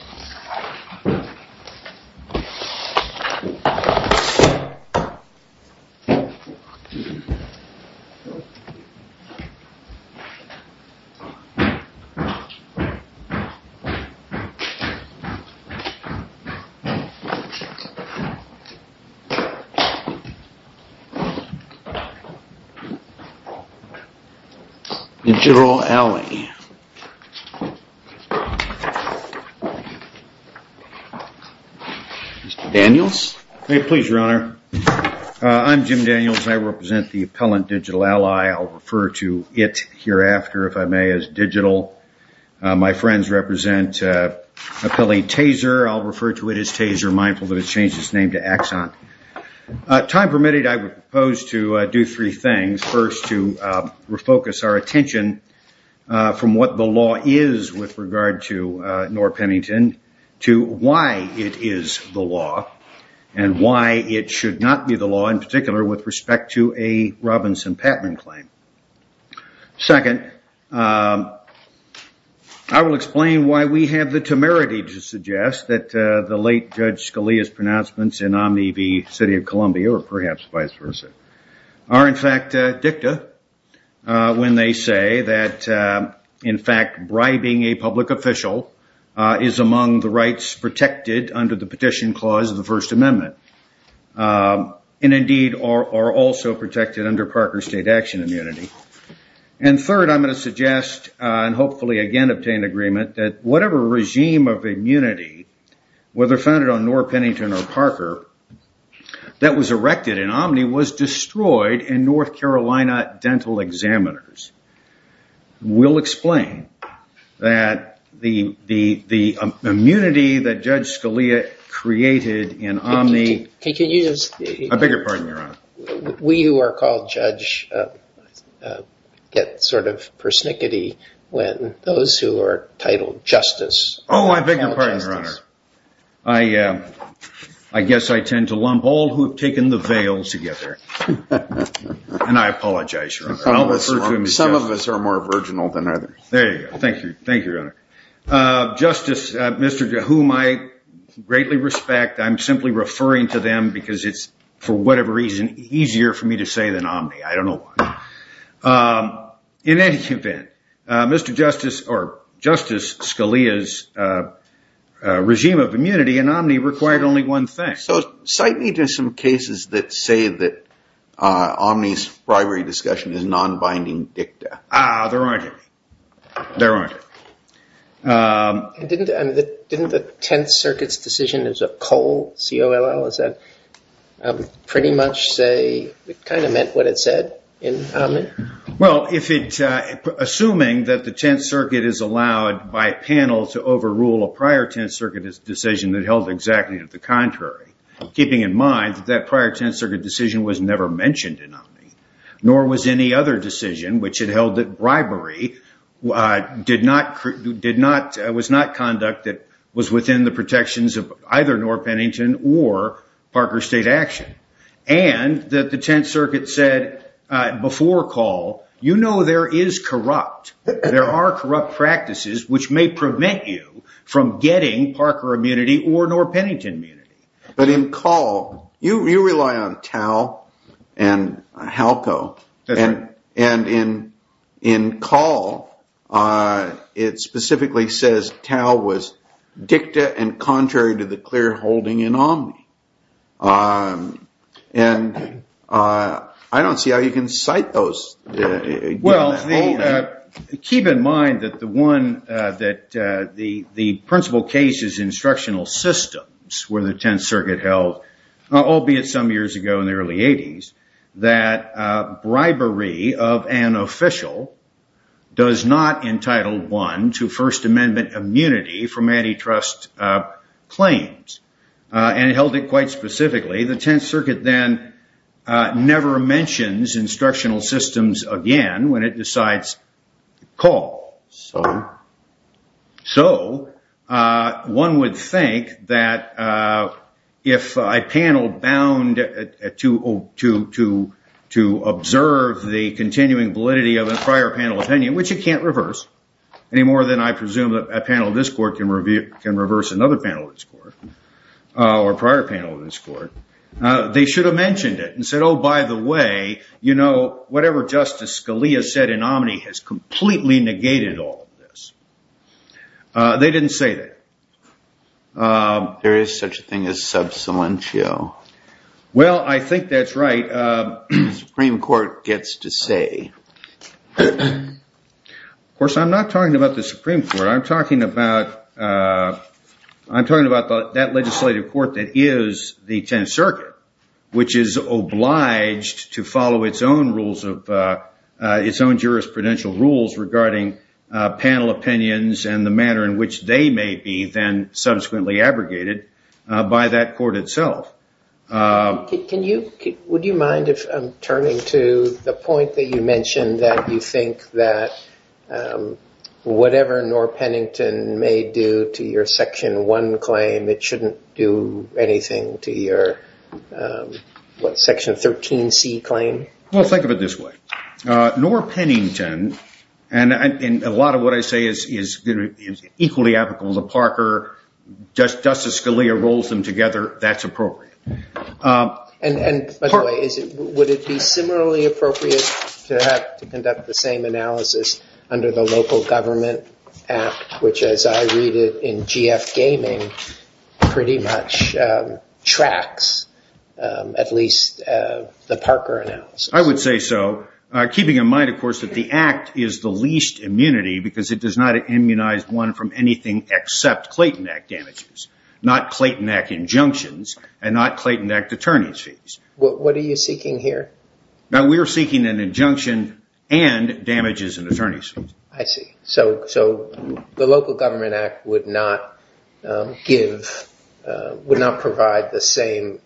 ... Jarroh Ally I'm Jim Daniels, I represent the Appellant Digital Ally, I'll refer to it hereafter if I may as Digital. My friends represent Appellee Taser, I'll refer to it as Taser, mindful that it's changed its name to Axon. Time permitted, I propose to do three things, first to refocus our attention from what the why it is the law and why it should not be the law, in particular with respect to a Robinson Patman claim. Second, I will explain why we have the temerity to suggest that the late Judge Scalia's pronouncements in Omni v. City of Columbia, or perhaps vice versa, are in fact dicta when they say that in fact bribing a public official is among the rights protected under the Petition Clause of the First Amendment, and indeed are also protected under Parker State Action Immunity. And third, I'm going to suggest, and hopefully again obtain agreement, that whatever regime of immunity, whether founded on Norr Pennington or Parker, that was erected in Omni was destroyed in North Carolina dental examiners. We'll explain that the immunity that Judge Scalia created in Omni... Can you just... I beg your pardon, Your Honor. We who are called judge get sort of persnickety when those who are titled justice... Oh, I beg your pardon, Your Honor. I guess I tend to lump all who have taken the veil together. And I apologize, Your Honor. Some of us are more virginal than others. There you go. Thank you. Thank you, Your Honor. Justice, Mr. Jehu, whom I greatly respect, I'm simply referring to them because it's, for whatever reason, easier for me to say than Omni. I don't know why. In any event, Justice Scalia's regime of immunity in Omni required only one thing. So cite me to some cases that say that Omni's bribery discussion is non-binding dicta. Ah, there aren't any. There aren't any. Didn't the Tenth Circuit's decision as a coal, C-O-L-L, is that pretty much say... It kind of meant what it said in Omni? Well, assuming that the Tenth Circuit is allowed by panel to overrule a prior Tenth Circuit decision that held exactly to the contrary, keeping in mind that that prior Tenth Circuit decision was never mentioned in Omni, nor was any other decision which had held that bribery was not conduct that was within the protections of either Nora Pennington or Parker State Action, and that the Tenth Circuit said before call, you know there is corrupt. There are corrupt practices which may prevent you from getting Parker immunity or Nora Pennington immunity. But in call, you rely on Tau and HALCO. And in call, it specifically says Tau was dicta and contrary to the clear holding in Omni. And I don't see how you can cite those. Well, keep in mind that the principal case is instructional systems where the Tenth Circuit held, albeit some years ago in the early 80s, that bribery of an official does not entitle one to First Amendment immunity from antitrust claims, and it held it quite specifically. The Tenth Circuit then never mentions instructional systems again when it decides to call. So one would think that if a panel bound to observe the continuing validity of a prior panel opinion, which it can't reverse any more than I presume a panel of this court can reverse another panel of this court, or a prior panel of this court, they should have mentioned it and said, oh, by the way, you know, whatever Justice Scalia said in Omni has completely negated all of this. They didn't say that. There is such a thing as sub salientio. Well, I think that's right. The Supreme Court gets to say. Of course, I'm not talking about the Supreme Court. I'm talking about that legislative court that is the Tenth Circuit, which is obliged to follow its own rules of its own jurisprudential rules regarding panel opinions and the manner in which they may be then subsequently abrogated by that court itself. Would you mind if I'm turning to the point that you mentioned, that you think that whatever Norr Pennington may do to your Section 1 claim, it shouldn't do anything to your Section 13C claim? Well, think of it this way. Norr Pennington, and a lot of what I say is equally applicable to Parker, Justice Scalia rolls them together. That's appropriate. And by the way, would it be similarly appropriate to have to conduct the same analysis under the local government act, which, as I read it in GF Gaming, pretty much tracks at least the Parker analysis? I would say so, keeping in mind, of course, that the act is the least immunity because it does not immunize one from anything except Clayton Act damages, not Clayton Act injunctions, and not Clayton Act attorney's fees. What are you seeking here? Now, we are seeking an injunction and damages and attorney's fees. I see. So the local government act would not provide the same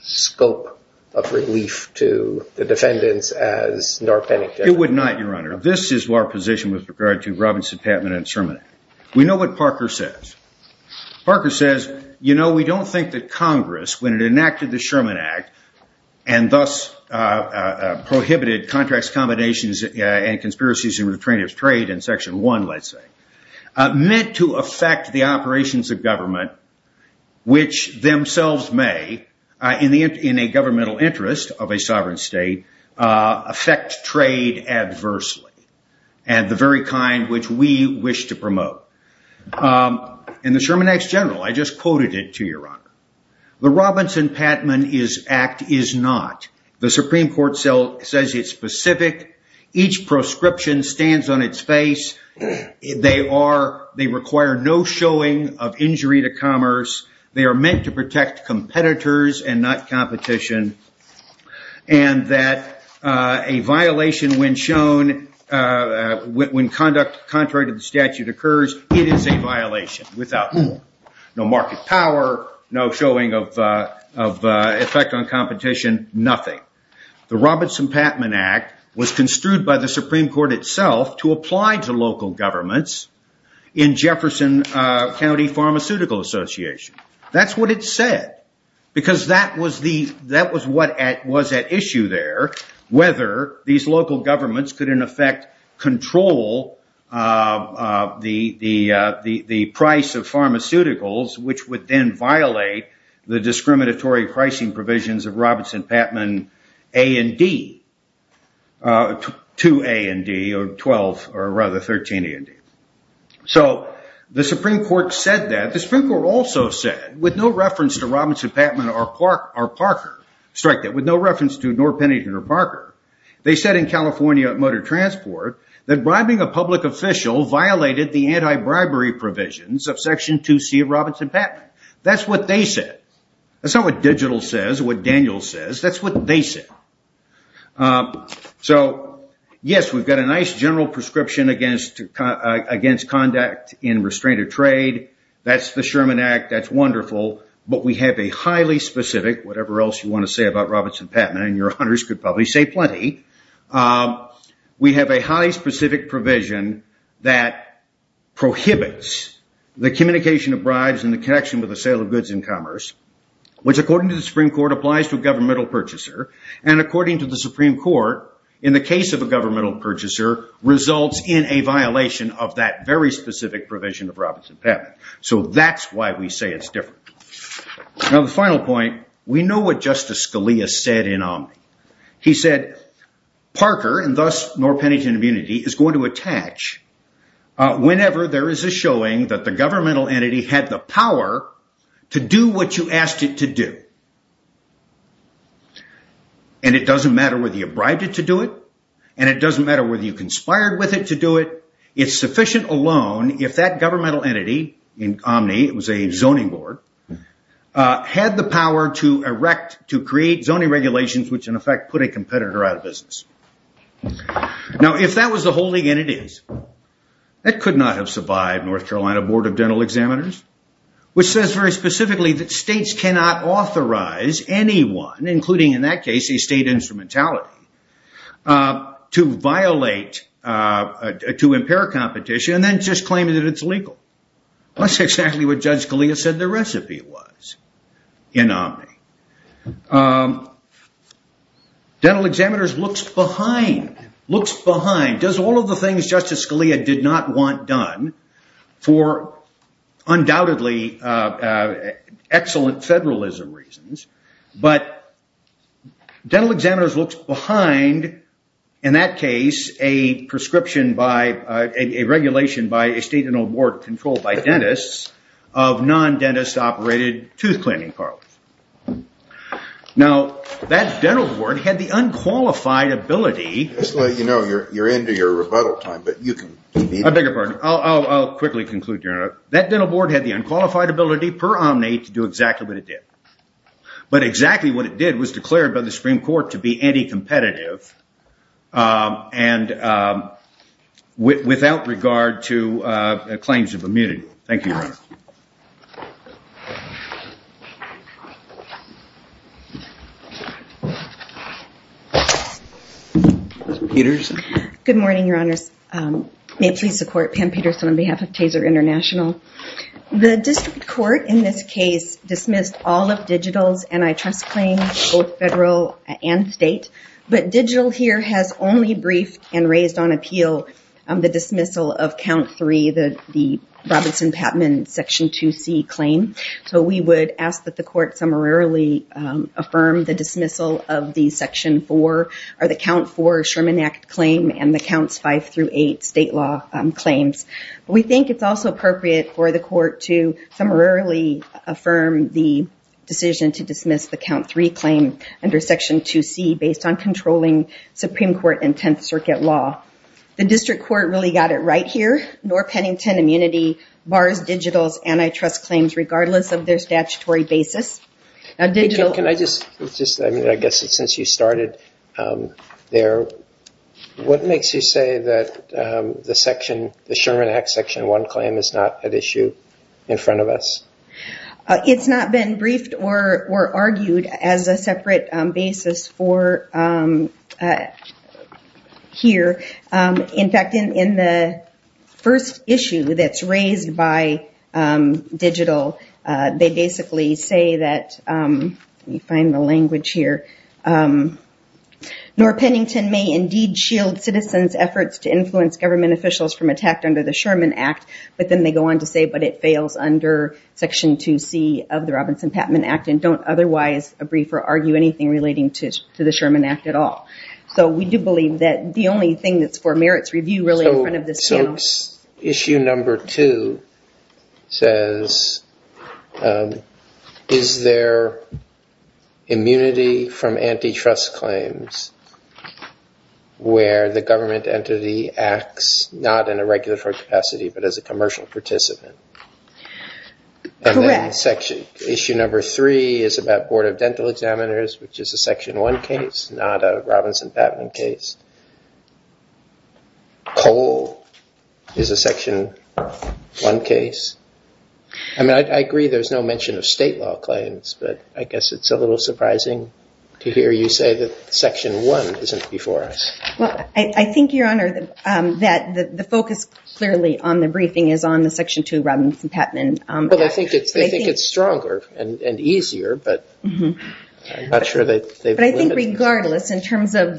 scope of relief to the defendants as Norr Pennington. It would not, Your Honor. This is our position with regard to Robinson, Patman, and Sherman. We know what Parker says. Parker says, you know, we don't think that Congress, when it enacted the Sherman Act, and thus prohibited contracts, accommodations, and conspiracies in retrainers' trade in Section 1, let's say, meant to affect the operations of government, which themselves may, in a governmental interest of a sovereign state, affect trade adversely, and the very kind which we wish to promote. In the Sherman Act's general, I just quoted it to Your Honor. The Robinson-Patman Act is not. The Supreme Court says it's specific. Each proscription stands on its face. They require no showing of injury to commerce. They are meant to protect competitors and not competition. And that a violation when shown, when conduct contrary to the statute occurs, it is a violation. Without no market power, no showing of effect on competition, nothing. The Robinson-Patman Act was construed by the Supreme Court itself to apply to local governments in Jefferson County Pharmaceutical Association. That's what it said. Because that was what was at issue there, whether these local governments could, in effect, control the price of pharmaceuticals, which would then violate the discriminatory pricing provisions of Robinson-Patman A&D, 2 A&D, or 12, or rather 13 A&D. So the Supreme Court said that. The Supreme Court also said, with no reference to Robinson-Patman or Parker, strike that, with no reference to nor Pennington or Parker, they said in California Motor Transport that bribing a public official violated the anti-bribery provisions of Section 2C of Robinson-Patman. That's what they said. That's not what Digital says, what Daniel says. That's what they said. So, yes, we've got a nice general prescription against conduct in restrained trade. That's the Sherman Act. That's wonderful. But we have a highly specific, whatever else you want to say about Robinson-Patman, and your honors could probably say plenty, we have a highly specific provision that prohibits the communication of bribes and the connection with the sale of goods and commerce, which according to the Supreme Court applies to a governmental purchaser, and according to the Supreme Court, in the case of a governmental purchaser, results in a violation of that very specific provision of Robinson-Patman. So that's why we say it's different. Now the final point, we know what Justice Scalia said in Omni. He said Parker, and thus Norr-Pennington Immunity, is going to attach whenever there is a showing that the governmental entity had the power to do what you asked it to do. And it doesn't matter whether you bribed it to do it, and it doesn't matter whether you conspired with it to do it, it's sufficient alone if that governmental entity in Omni, it was a zoning board, had the power to erect, to create zoning regulations which in effect put a competitor out of business. Now if that was the holding entity, that could not have survived North Carolina Board of Dental Examiners, which says very specifically that states cannot authorize anyone, including in that case a state instrumentality, to violate, to impair competition, and then just claim that it's legal. That's exactly what Judge Scalia said the recipe was in Omni. Dental Examiners looks behind, looks behind, does all of the things Justice Scalia did not want done, for undoubtedly excellent federalism reasons, but Dental Examiners looks behind, in that case, a prescription by, a regulation by a state board controlled by dentists, of non-dentist operated tooth cleaning parlors. Now, that dental board had the unqualified ability... Just to let you know, you're into your rebuttal time, but you can... I beg your pardon, I'll quickly conclude here. That dental board had the unqualified ability, per Omni, to do exactly what it did. But exactly what it did was declared by the Supreme Court to be anti-competitive, and without regard to claims of immunity. Thank you, Your Honor. Good morning, Your Honors. May it please the Court, Pam Peterson on behalf of Taser International. The District Court, in this case, dismissed all of Digital's antitrust claims, both federal and state. But Digital here has only briefed and raised on appeal the dismissal of Count 3, the Robinson-Patman Section 2C claim. So we would ask that the Court summarily affirm the dismissal of the Section 4, or the Count 4 Sherman Act claim, and the Counts 5 through 8 state law claims. We think it's also appropriate for the Court to summarily affirm the decision to dismiss the Count 3 claim under Section 2C based on controlling Supreme Court and Tenth Circuit law. The District Court really got it right here. Nor Pennington Immunity bars Digital's antitrust claims regardless of their statutory basis. Can I just, I guess since you started there, what makes you say that the Sherman Act Section 1 claim is not at issue in front of us? It's not been briefed or argued as a separate basis for here. In fact, in the first issue that's raised by Digital, they basically say that, let me find the language here, Nor Pennington may indeed shield citizens' efforts to influence government officials from attack under the Sherman Act, but then they go on to say, but it fails under Section 2C of the Robinson-Patman Act and don't otherwise brief or argue anything relating to the Sherman Act at all. So we do believe that the only thing that's for merits review really in front of this panel. Issue number two says, is there immunity from antitrust claims where the government entity acts not in a regulatory capacity but as a commercial participant? Correct. Issue number three is about Board of Dental Examiners, which is a Section 1 case, not a Robinson-Patman case. Cole is a Section 1 case. I mean, I agree there's no mention of state law claims, but I guess it's a little surprising to hear you say that Section 1 isn't before us. Well, I think, Your Honor, that the focus clearly on the briefing is on the Section 2 Robinson-Patman Act. Well, they think it's stronger and easier, but I'm not sure that they've limited it. I think regardless, in terms of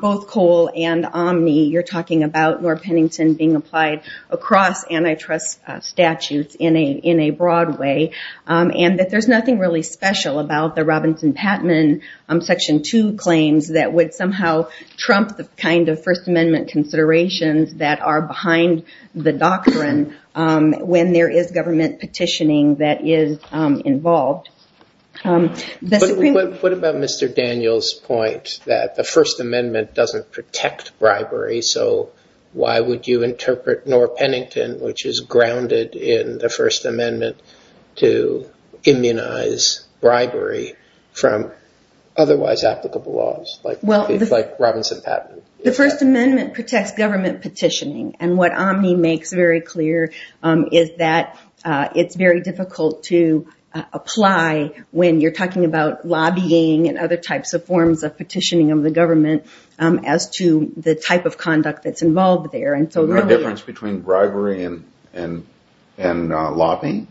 both Cole and Omni, you're talking about North Pennington being applied across antitrust statutes in a broad way and that there's nothing really special about the Robinson-Patman Section 2 claims that would somehow trump the kind of First Amendment considerations that are behind the doctrine when there is government petitioning that is involved. What about Mr. Daniels' point that the First Amendment doesn't protect bribery, so why would you interpret North Pennington, which is grounded in the First Amendment, to immunize bribery from otherwise applicable laws like Robinson-Patman? The First Amendment protects government petitioning, and what Omni makes very clear is that it's very difficult to apply when you're talking about lobbying and other types of forms of petitioning of the government as to the type of conduct that's involved there. Is there a difference between bribery and lobbying?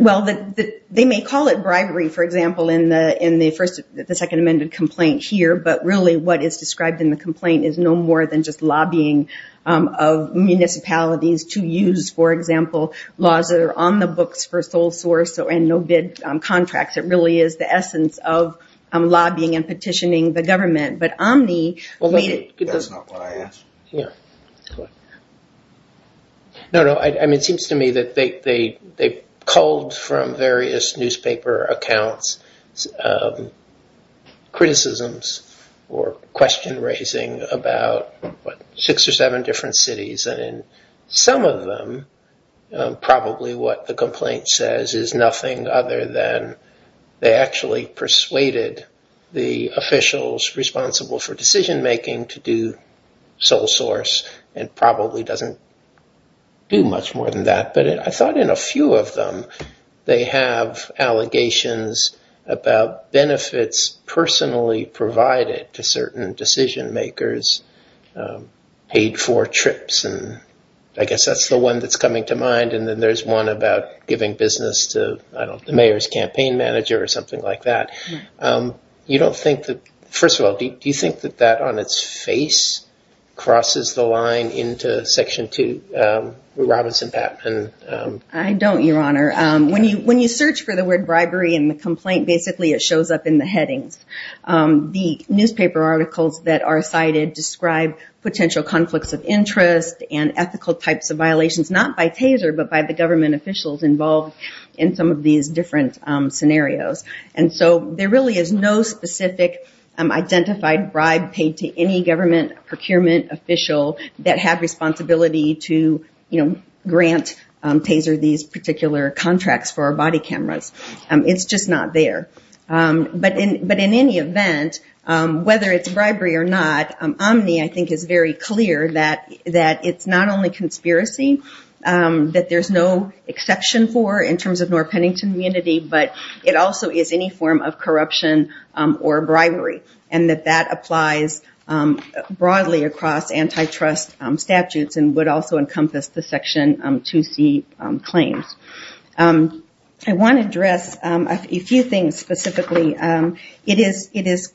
Well, they may call it bribery, for example, in the Second Amendment complaint here, but really what is described in the complaint is no more than just lobbying of municipalities to use, for example, laws that are on the books for sole source and no-bid contracts. It really is the essence of lobbying and petitioning the government, but Omni made it... That's not what I asked. No, no, it seems to me that they culled from various newspaper accounts criticisms or question-raising about six or seven different cities, and in some of them probably what the complaint says is nothing other than they actually persuaded the officials responsible for decision-making to do sole source and probably doesn't do much more than that. But I thought in a few of them they have allegations about benefits personally provided to certain decision-makers paid for trips, and I guess that's the one that's coming to mind, and then there's one about giving business to, I don't know, the mayor's campaign manager or something like that. First of all, do you think that that on its face crosses the line into Section 2, Robinson-Pattman? I don't, Your Honor. When you search for the word bribery in the complaint, basically it shows up in the headings. types of violations, not by TASER, but by the government officials involved in some of these different scenarios. And so there really is no specific identified bribe paid to any government procurement official that have responsibility to grant TASER these particular contracts for our body cameras. It's just not there. But in any event, whether it's bribery or not, Omni I think is very clear that it's not only conspiracy that there's no exception for in terms of North Pennington community, but it also is any form of corruption or bribery, and that that applies broadly across antitrust statutes and would also encompass the Section 2C claims. I want to address a few things specifically. It is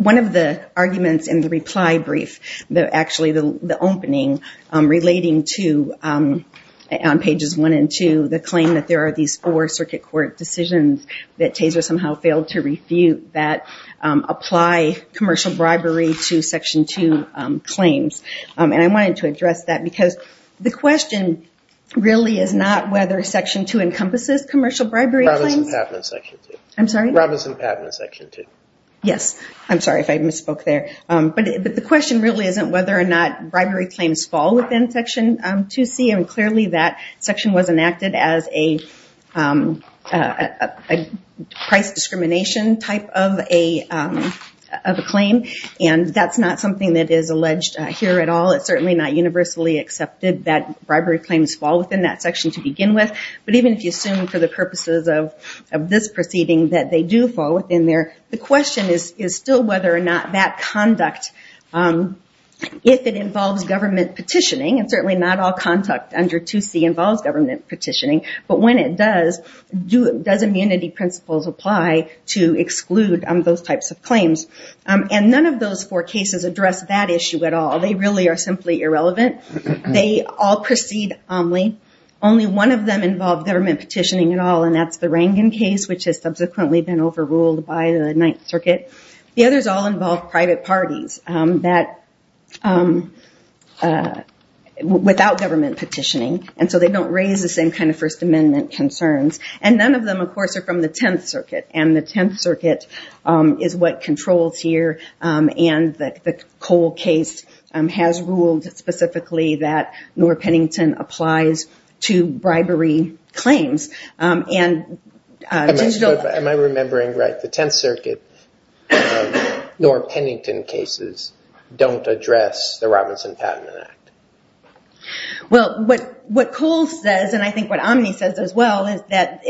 one of the arguments in the reply brief, actually the opening, relating to, on pages one and two, the claim that there are these four circuit court decisions that TASER somehow failed to refute that apply commercial bribery to Section 2 claims. And I wanted to address that because the question really is not whether Section 2 encompasses commercial bribery claims. Robinson-Patman Section 2. I'm sorry? Robinson-Patman Section 2. Yes. I'm sorry if I misspoke there. But the question really isn't whether or not bribery claims fall within Section 2C, and clearly that section was enacted as a price discrimination type of a claim, and that's not something that is alleged here at all. It's certainly not universally accepted that bribery claims fall within that section to begin with. But even if you assume for the purposes of this proceeding that they do fall within there, the question is still whether or not that conduct, if it involves government petitioning, and certainly not all conduct under 2C involves government petitioning, but when it does, does immunity principles apply to exclude those types of claims? And none of those four cases address that issue at all. They really are simply irrelevant. They all proceed omni. Only one of them involve government petitioning at all, and that's the Rangan case, which has subsequently been overruled by the Ninth Circuit. The others all involve private parties without government petitioning, and so they don't raise the same kind of First Amendment concerns. And none of them, of course, are from the Tenth Circuit, and the Tenth Circuit is what controls here, and the Cole case has ruled specifically that Norr-Pennington applies to bribery claims. Am I remembering right? The Tenth Circuit Norr-Pennington cases don't address the Robinson Patent Act. Well, what Cole says, and I think what Omni says as well, is that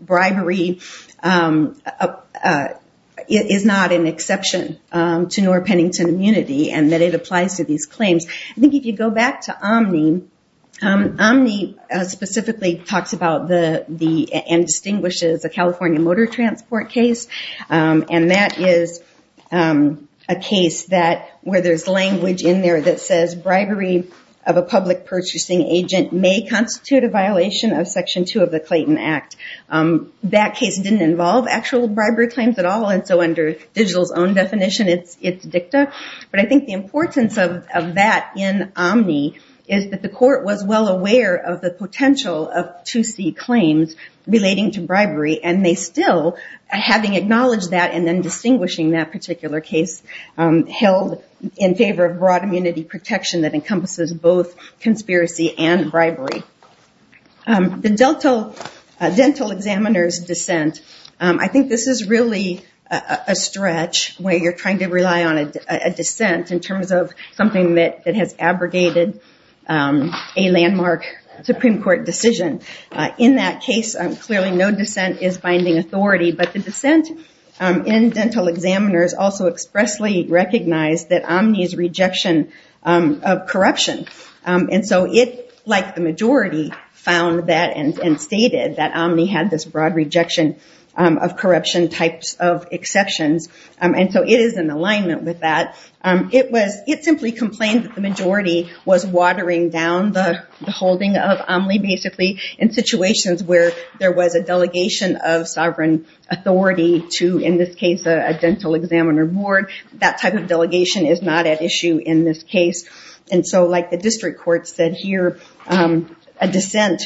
bribery is not an exception to Norr-Pennington immunity, and that it applies to these claims. I think if you go back to Omni, Omni specifically talks about and distinguishes a California motor transport case, and that is a case where there's language in there that says bribery of a public purchasing agent may constitute a violation of Section 2 of the Clayton Act. That case didn't involve actual bribery claims at all, and so under Digital's own definition, it's dicta. But I think the importance of that in Omni is that the court was well aware of the potential of 2C claims relating to bribery, and they still, having acknowledged that and then distinguishing that particular case, held in favor of broad immunity protection that encompasses both conspiracy and bribery. The dental examiner's dissent, I think this is really a stretch where you're trying to rely on a dissent in terms of something that has abrogated a landmark Supreme Court decision. In that case, clearly no dissent is binding authority, but the dissent in dental examiners also expressly recognized that Omni's rejection of corruption, and so it, like the majority, found that and stated that Omni had this broad rejection of corruption types of exceptions, and so it is in alignment with that. It simply complained that the majority was watering down the holding of Omni, basically in situations where there was a delegation of sovereign authority to, in this case, a dental examiner board. That type of delegation is not at issue in this case, and so like the district court said here, a dissent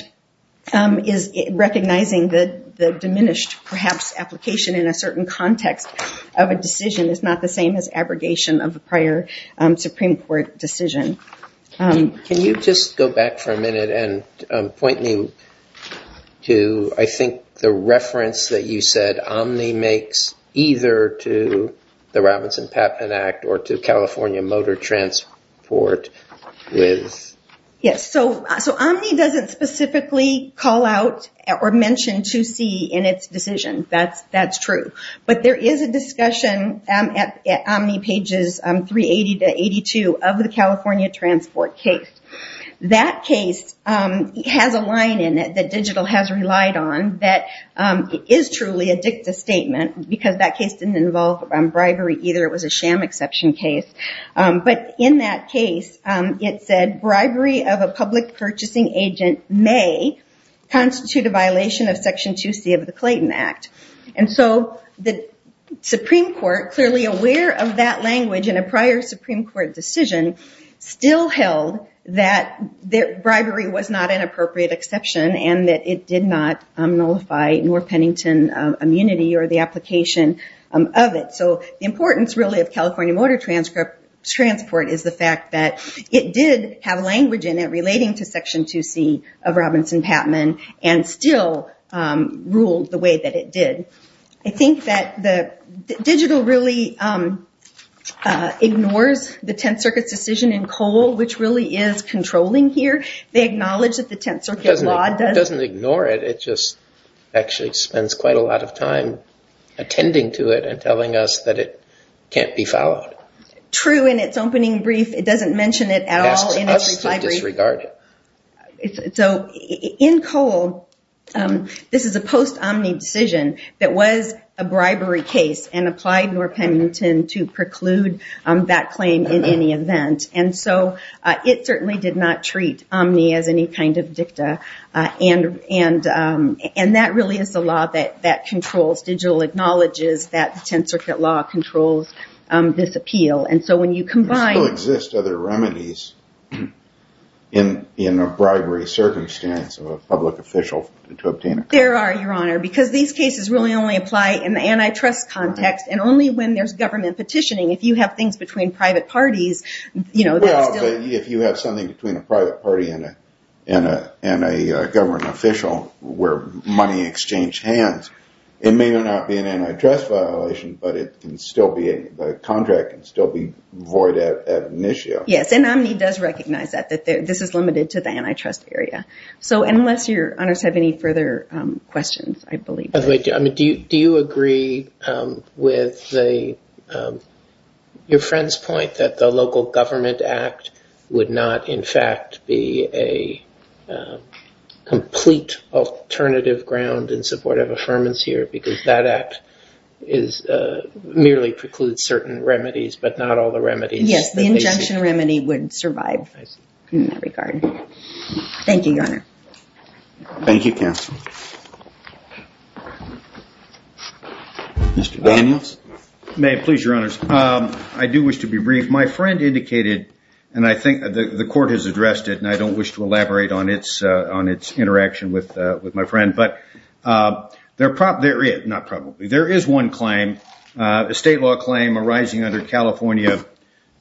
is recognizing the diminished, perhaps, application in a certain context of a decision is not the same as abrogation of a prior Supreme Court decision. Can you just go back for a minute and point me to, I think, the reference that you said Omni makes either to the Robinson-Patman Act or to California Motor Transport with... Yes, so Omni doesn't specifically call out or mention 2C in its decision. That's true, but there is a discussion at Omni pages 380 to 82 of the California Transport case. That case has a line in it that digital has relied on that is truly a dicta statement because that case didn't involve bribery either. It was a sham exception case, but in that case, it said, bribery of a public purchasing agent may constitute a violation of Section 2C of the Clayton Act, and so the Supreme Court, clearly aware of that language in a prior Supreme Court decision, still held that bribery was not an appropriate exception and that it did not nullify North Pennington immunity or the application of it. The importance, really, of California Motor Transport is the fact that it did have language in it relating to Section 2C of Robinson-Patman and still ruled the way that it did. I think that digital really ignores the Tenth Circuit's decision in Cole, which really is controlling here. They acknowledge that the Tenth Circuit law doesn't... It doesn't ignore it. It just actually spends quite a lot of time attending to it and telling us that it can't be followed. True, in its opening brief, it doesn't mention it at all in its brief. It asks us to disregard it. In Cole, this is a post-Omni decision that was a bribery case and applied North Pennington to preclude that claim in any event, and so it certainly did not treat Omni as any kind of dicta, and that really is the law that controls, digital acknowledges that the Tenth Circuit law controls this appeal. There still exist other remedies in a bribery circumstance of a public official to obtain it. There are, Your Honor, because these cases really only apply in the antitrust context and only when there's government petitioning. If you have things between private parties, that's still... Well, if you have something between a private party and a government official where money exchange hands, it may or may not be an antitrust violation, but the contract can still be void at an issue. Yes, and Omni does recognize that, that this is limited to the antitrust area. So unless Your Honors have any further questions, I believe... By the way, do you agree with your friend's point that the Local Government Act would not, in fact, be a complete alternative ground in support of affirmance here because that act merely precludes certain remedies, but not all the remedies? Yes, the injunction remedy would survive in that regard. Thank you, Your Honor. Thank you, Counsel. Mr. Daniels? May I please, Your Honors? I do wish to be brief. My friend indicated, and I think the court has addressed it, and I don't wish to elaborate on its interaction with my friend, but there is one claim, a state law claim arising under California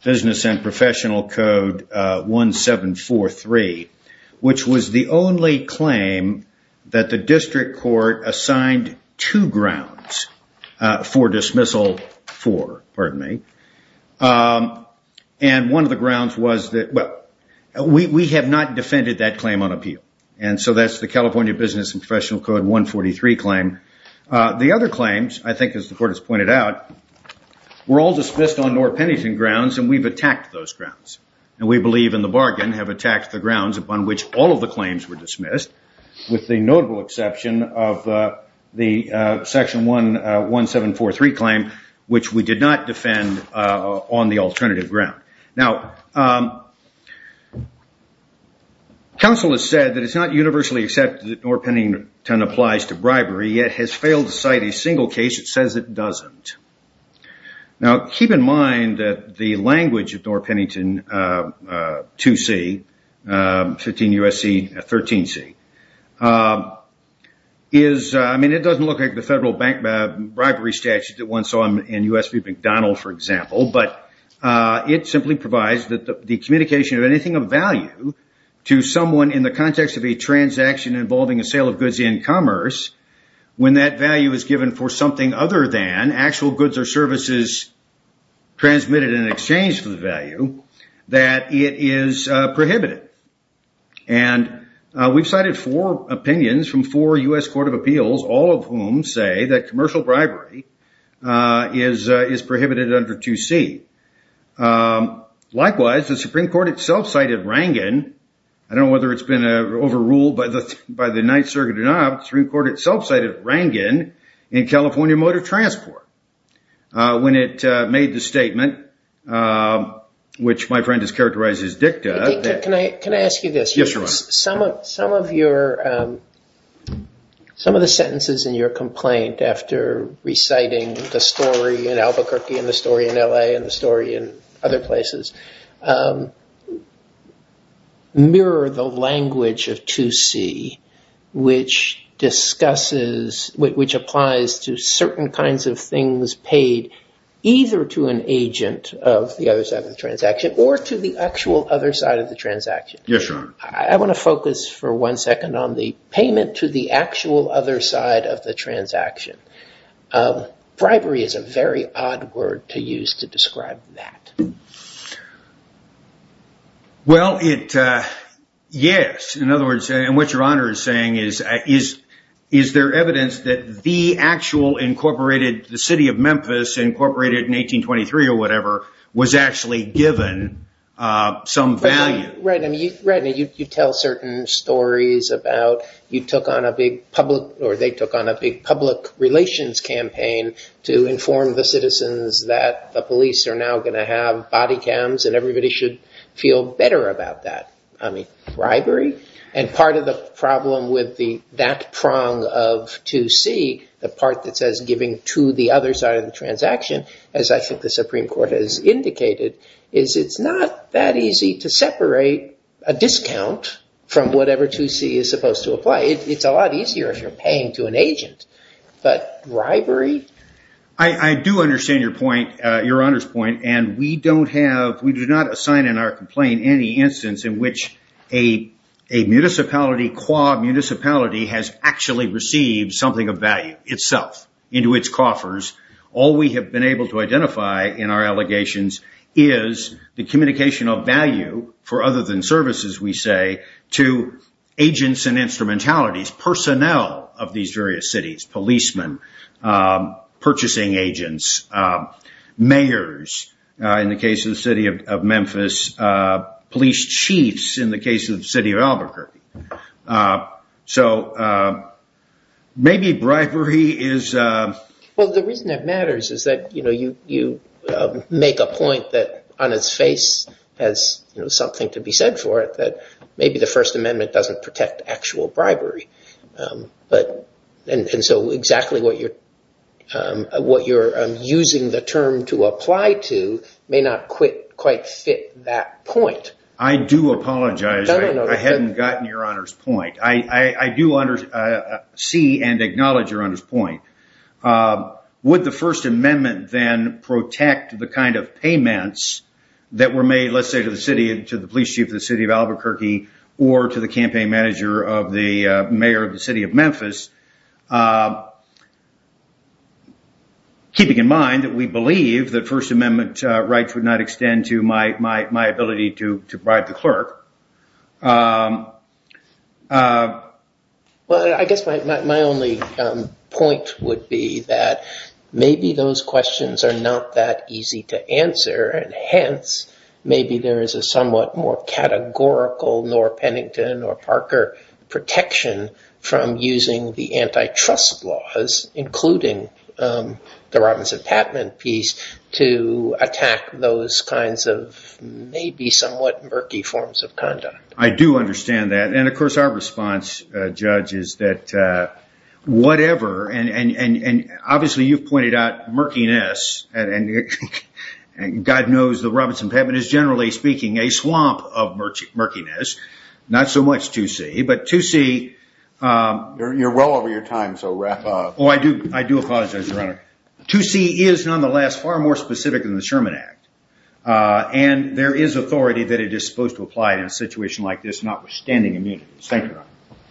Business and Professional Code 1743, which was the only claim that the district court assigned two grounds for dismissal for. And one of the grounds was that, well, we have not defended that claim on appeal. And so that's the California Business and Professional Code 143 claim. The other claims, I think, as the court has pointed out, were all dismissed on North Pennington grounds, and we've attacked those grounds. And we believe in the bargain, have attacked the grounds upon which all of the claims were dismissed, with the notable exception of the Section 1743 claim, which we did not defend on the alternative ground. Now, counsel has said that it's not universally accepted that North Pennington applies to bribery, yet has failed to cite a single case that says it doesn't. Now, keep in mind that the language of North Pennington 2C, 15 U.S.C., 13C, is, I mean, it doesn't look like the federal bribery statute that one saw in U.S.P. McDonald, for example, but it simply provides that the communication of anything of value to someone in the context of a transaction involving a sale of goods in commerce, when that value is given for something other than actual goods or services transmitted in exchange for the value, that it is prohibited. And we've cited four opinions from four U.S. Court of Appeals, all of whom say that commercial bribery is prohibited under 2C. Likewise, the Supreme Court itself cited Rangan, I don't know whether it's been overruled by the Ninth Circuit or not, the Supreme Court itself cited Rangan in California Motor Transport when it made the statement, which my friend has characterized as dicta. Can I ask you this? Yes, Your Honor. Some of the sentences in your complaint after reciting the story in Albuquerque and the story in L.A. and the story in other places mirror the language of 2C, which discusses, which applies to certain kinds of things paid either to an agent of the other side of the transaction or to the actual other side of the transaction. Yes, Your Honor. I want to focus for one second on the payment to the actual other side of the transaction. Bribery is a very odd word to use to describe that. Well, yes. In other words, and what Your Honor is saying is, is there evidence that the actual incorporated, the city of Memphis incorporated in 1823 or whatever, was actually given some value? Right, and you tell certain stories about you took on a big public, or they took on a big public relations campaign to inform the citizens that the police are now going to have body cams and everybody should feel better about that. I mean, bribery? And part of the problem with that prong of 2C, the part that says giving to the other side of the transaction, as I think the Supreme Court has indicated, is it's not that easy to separate a discount from whatever 2C is supposed to apply. It's a lot easier if you're paying to an agent, but bribery? I do understand your point, Your Honor's point, and we do not assign in our complaint any instance in which a municipality, qua municipality, has actually received something of value itself into its coffers. All we have been able to identify in our allegations is the communication of value for other than services, we say, to agents and instrumentalities, personnel of these various cities, policemen, purchasing agents, mayors in the case of the city of Memphis, police chiefs in the case of the city of Albuquerque. So maybe bribery is... Well, the reason it matters is that you make a point that on its face has something to be said for it, that maybe the First Amendment doesn't protect actual bribery. And so exactly what you're using the term to apply to may not quite fit that point. I do apologize. I hadn't gotten Your Honor's point. I do see and acknowledge Your Honor's point. Would the First Amendment then protect the kind of payments that were made, let's say, to the police chief of the city of Albuquerque or to the campaign manager of the mayor of the city of Memphis, keeping in mind that we believe that First Amendment rights would not extend to my ability to bribe the clerk? Well, I guess my only point would be that maybe those questions are not that easy to answer, and hence maybe there is a somewhat more categorical Norr Pennington or Parker protection from using the antitrust laws, including the Robinson-Patman piece, to attack those kinds of maybe somewhat murky forms of bribery. I do understand that. And of course, our response, Judge, is that whatever, and obviously you've pointed out murkiness, and God knows the Robinson-Patman is generally speaking a swamp of murkiness, not so much 2C, but 2C... You're well over your time, so wrap up. Oh, I do apologize, Your Honor. 2C is nonetheless far more specific than the Sherman Act, and there is authority that it is supposed to apply in a situation like this, notwithstanding immunity. Thank you, Your Honor.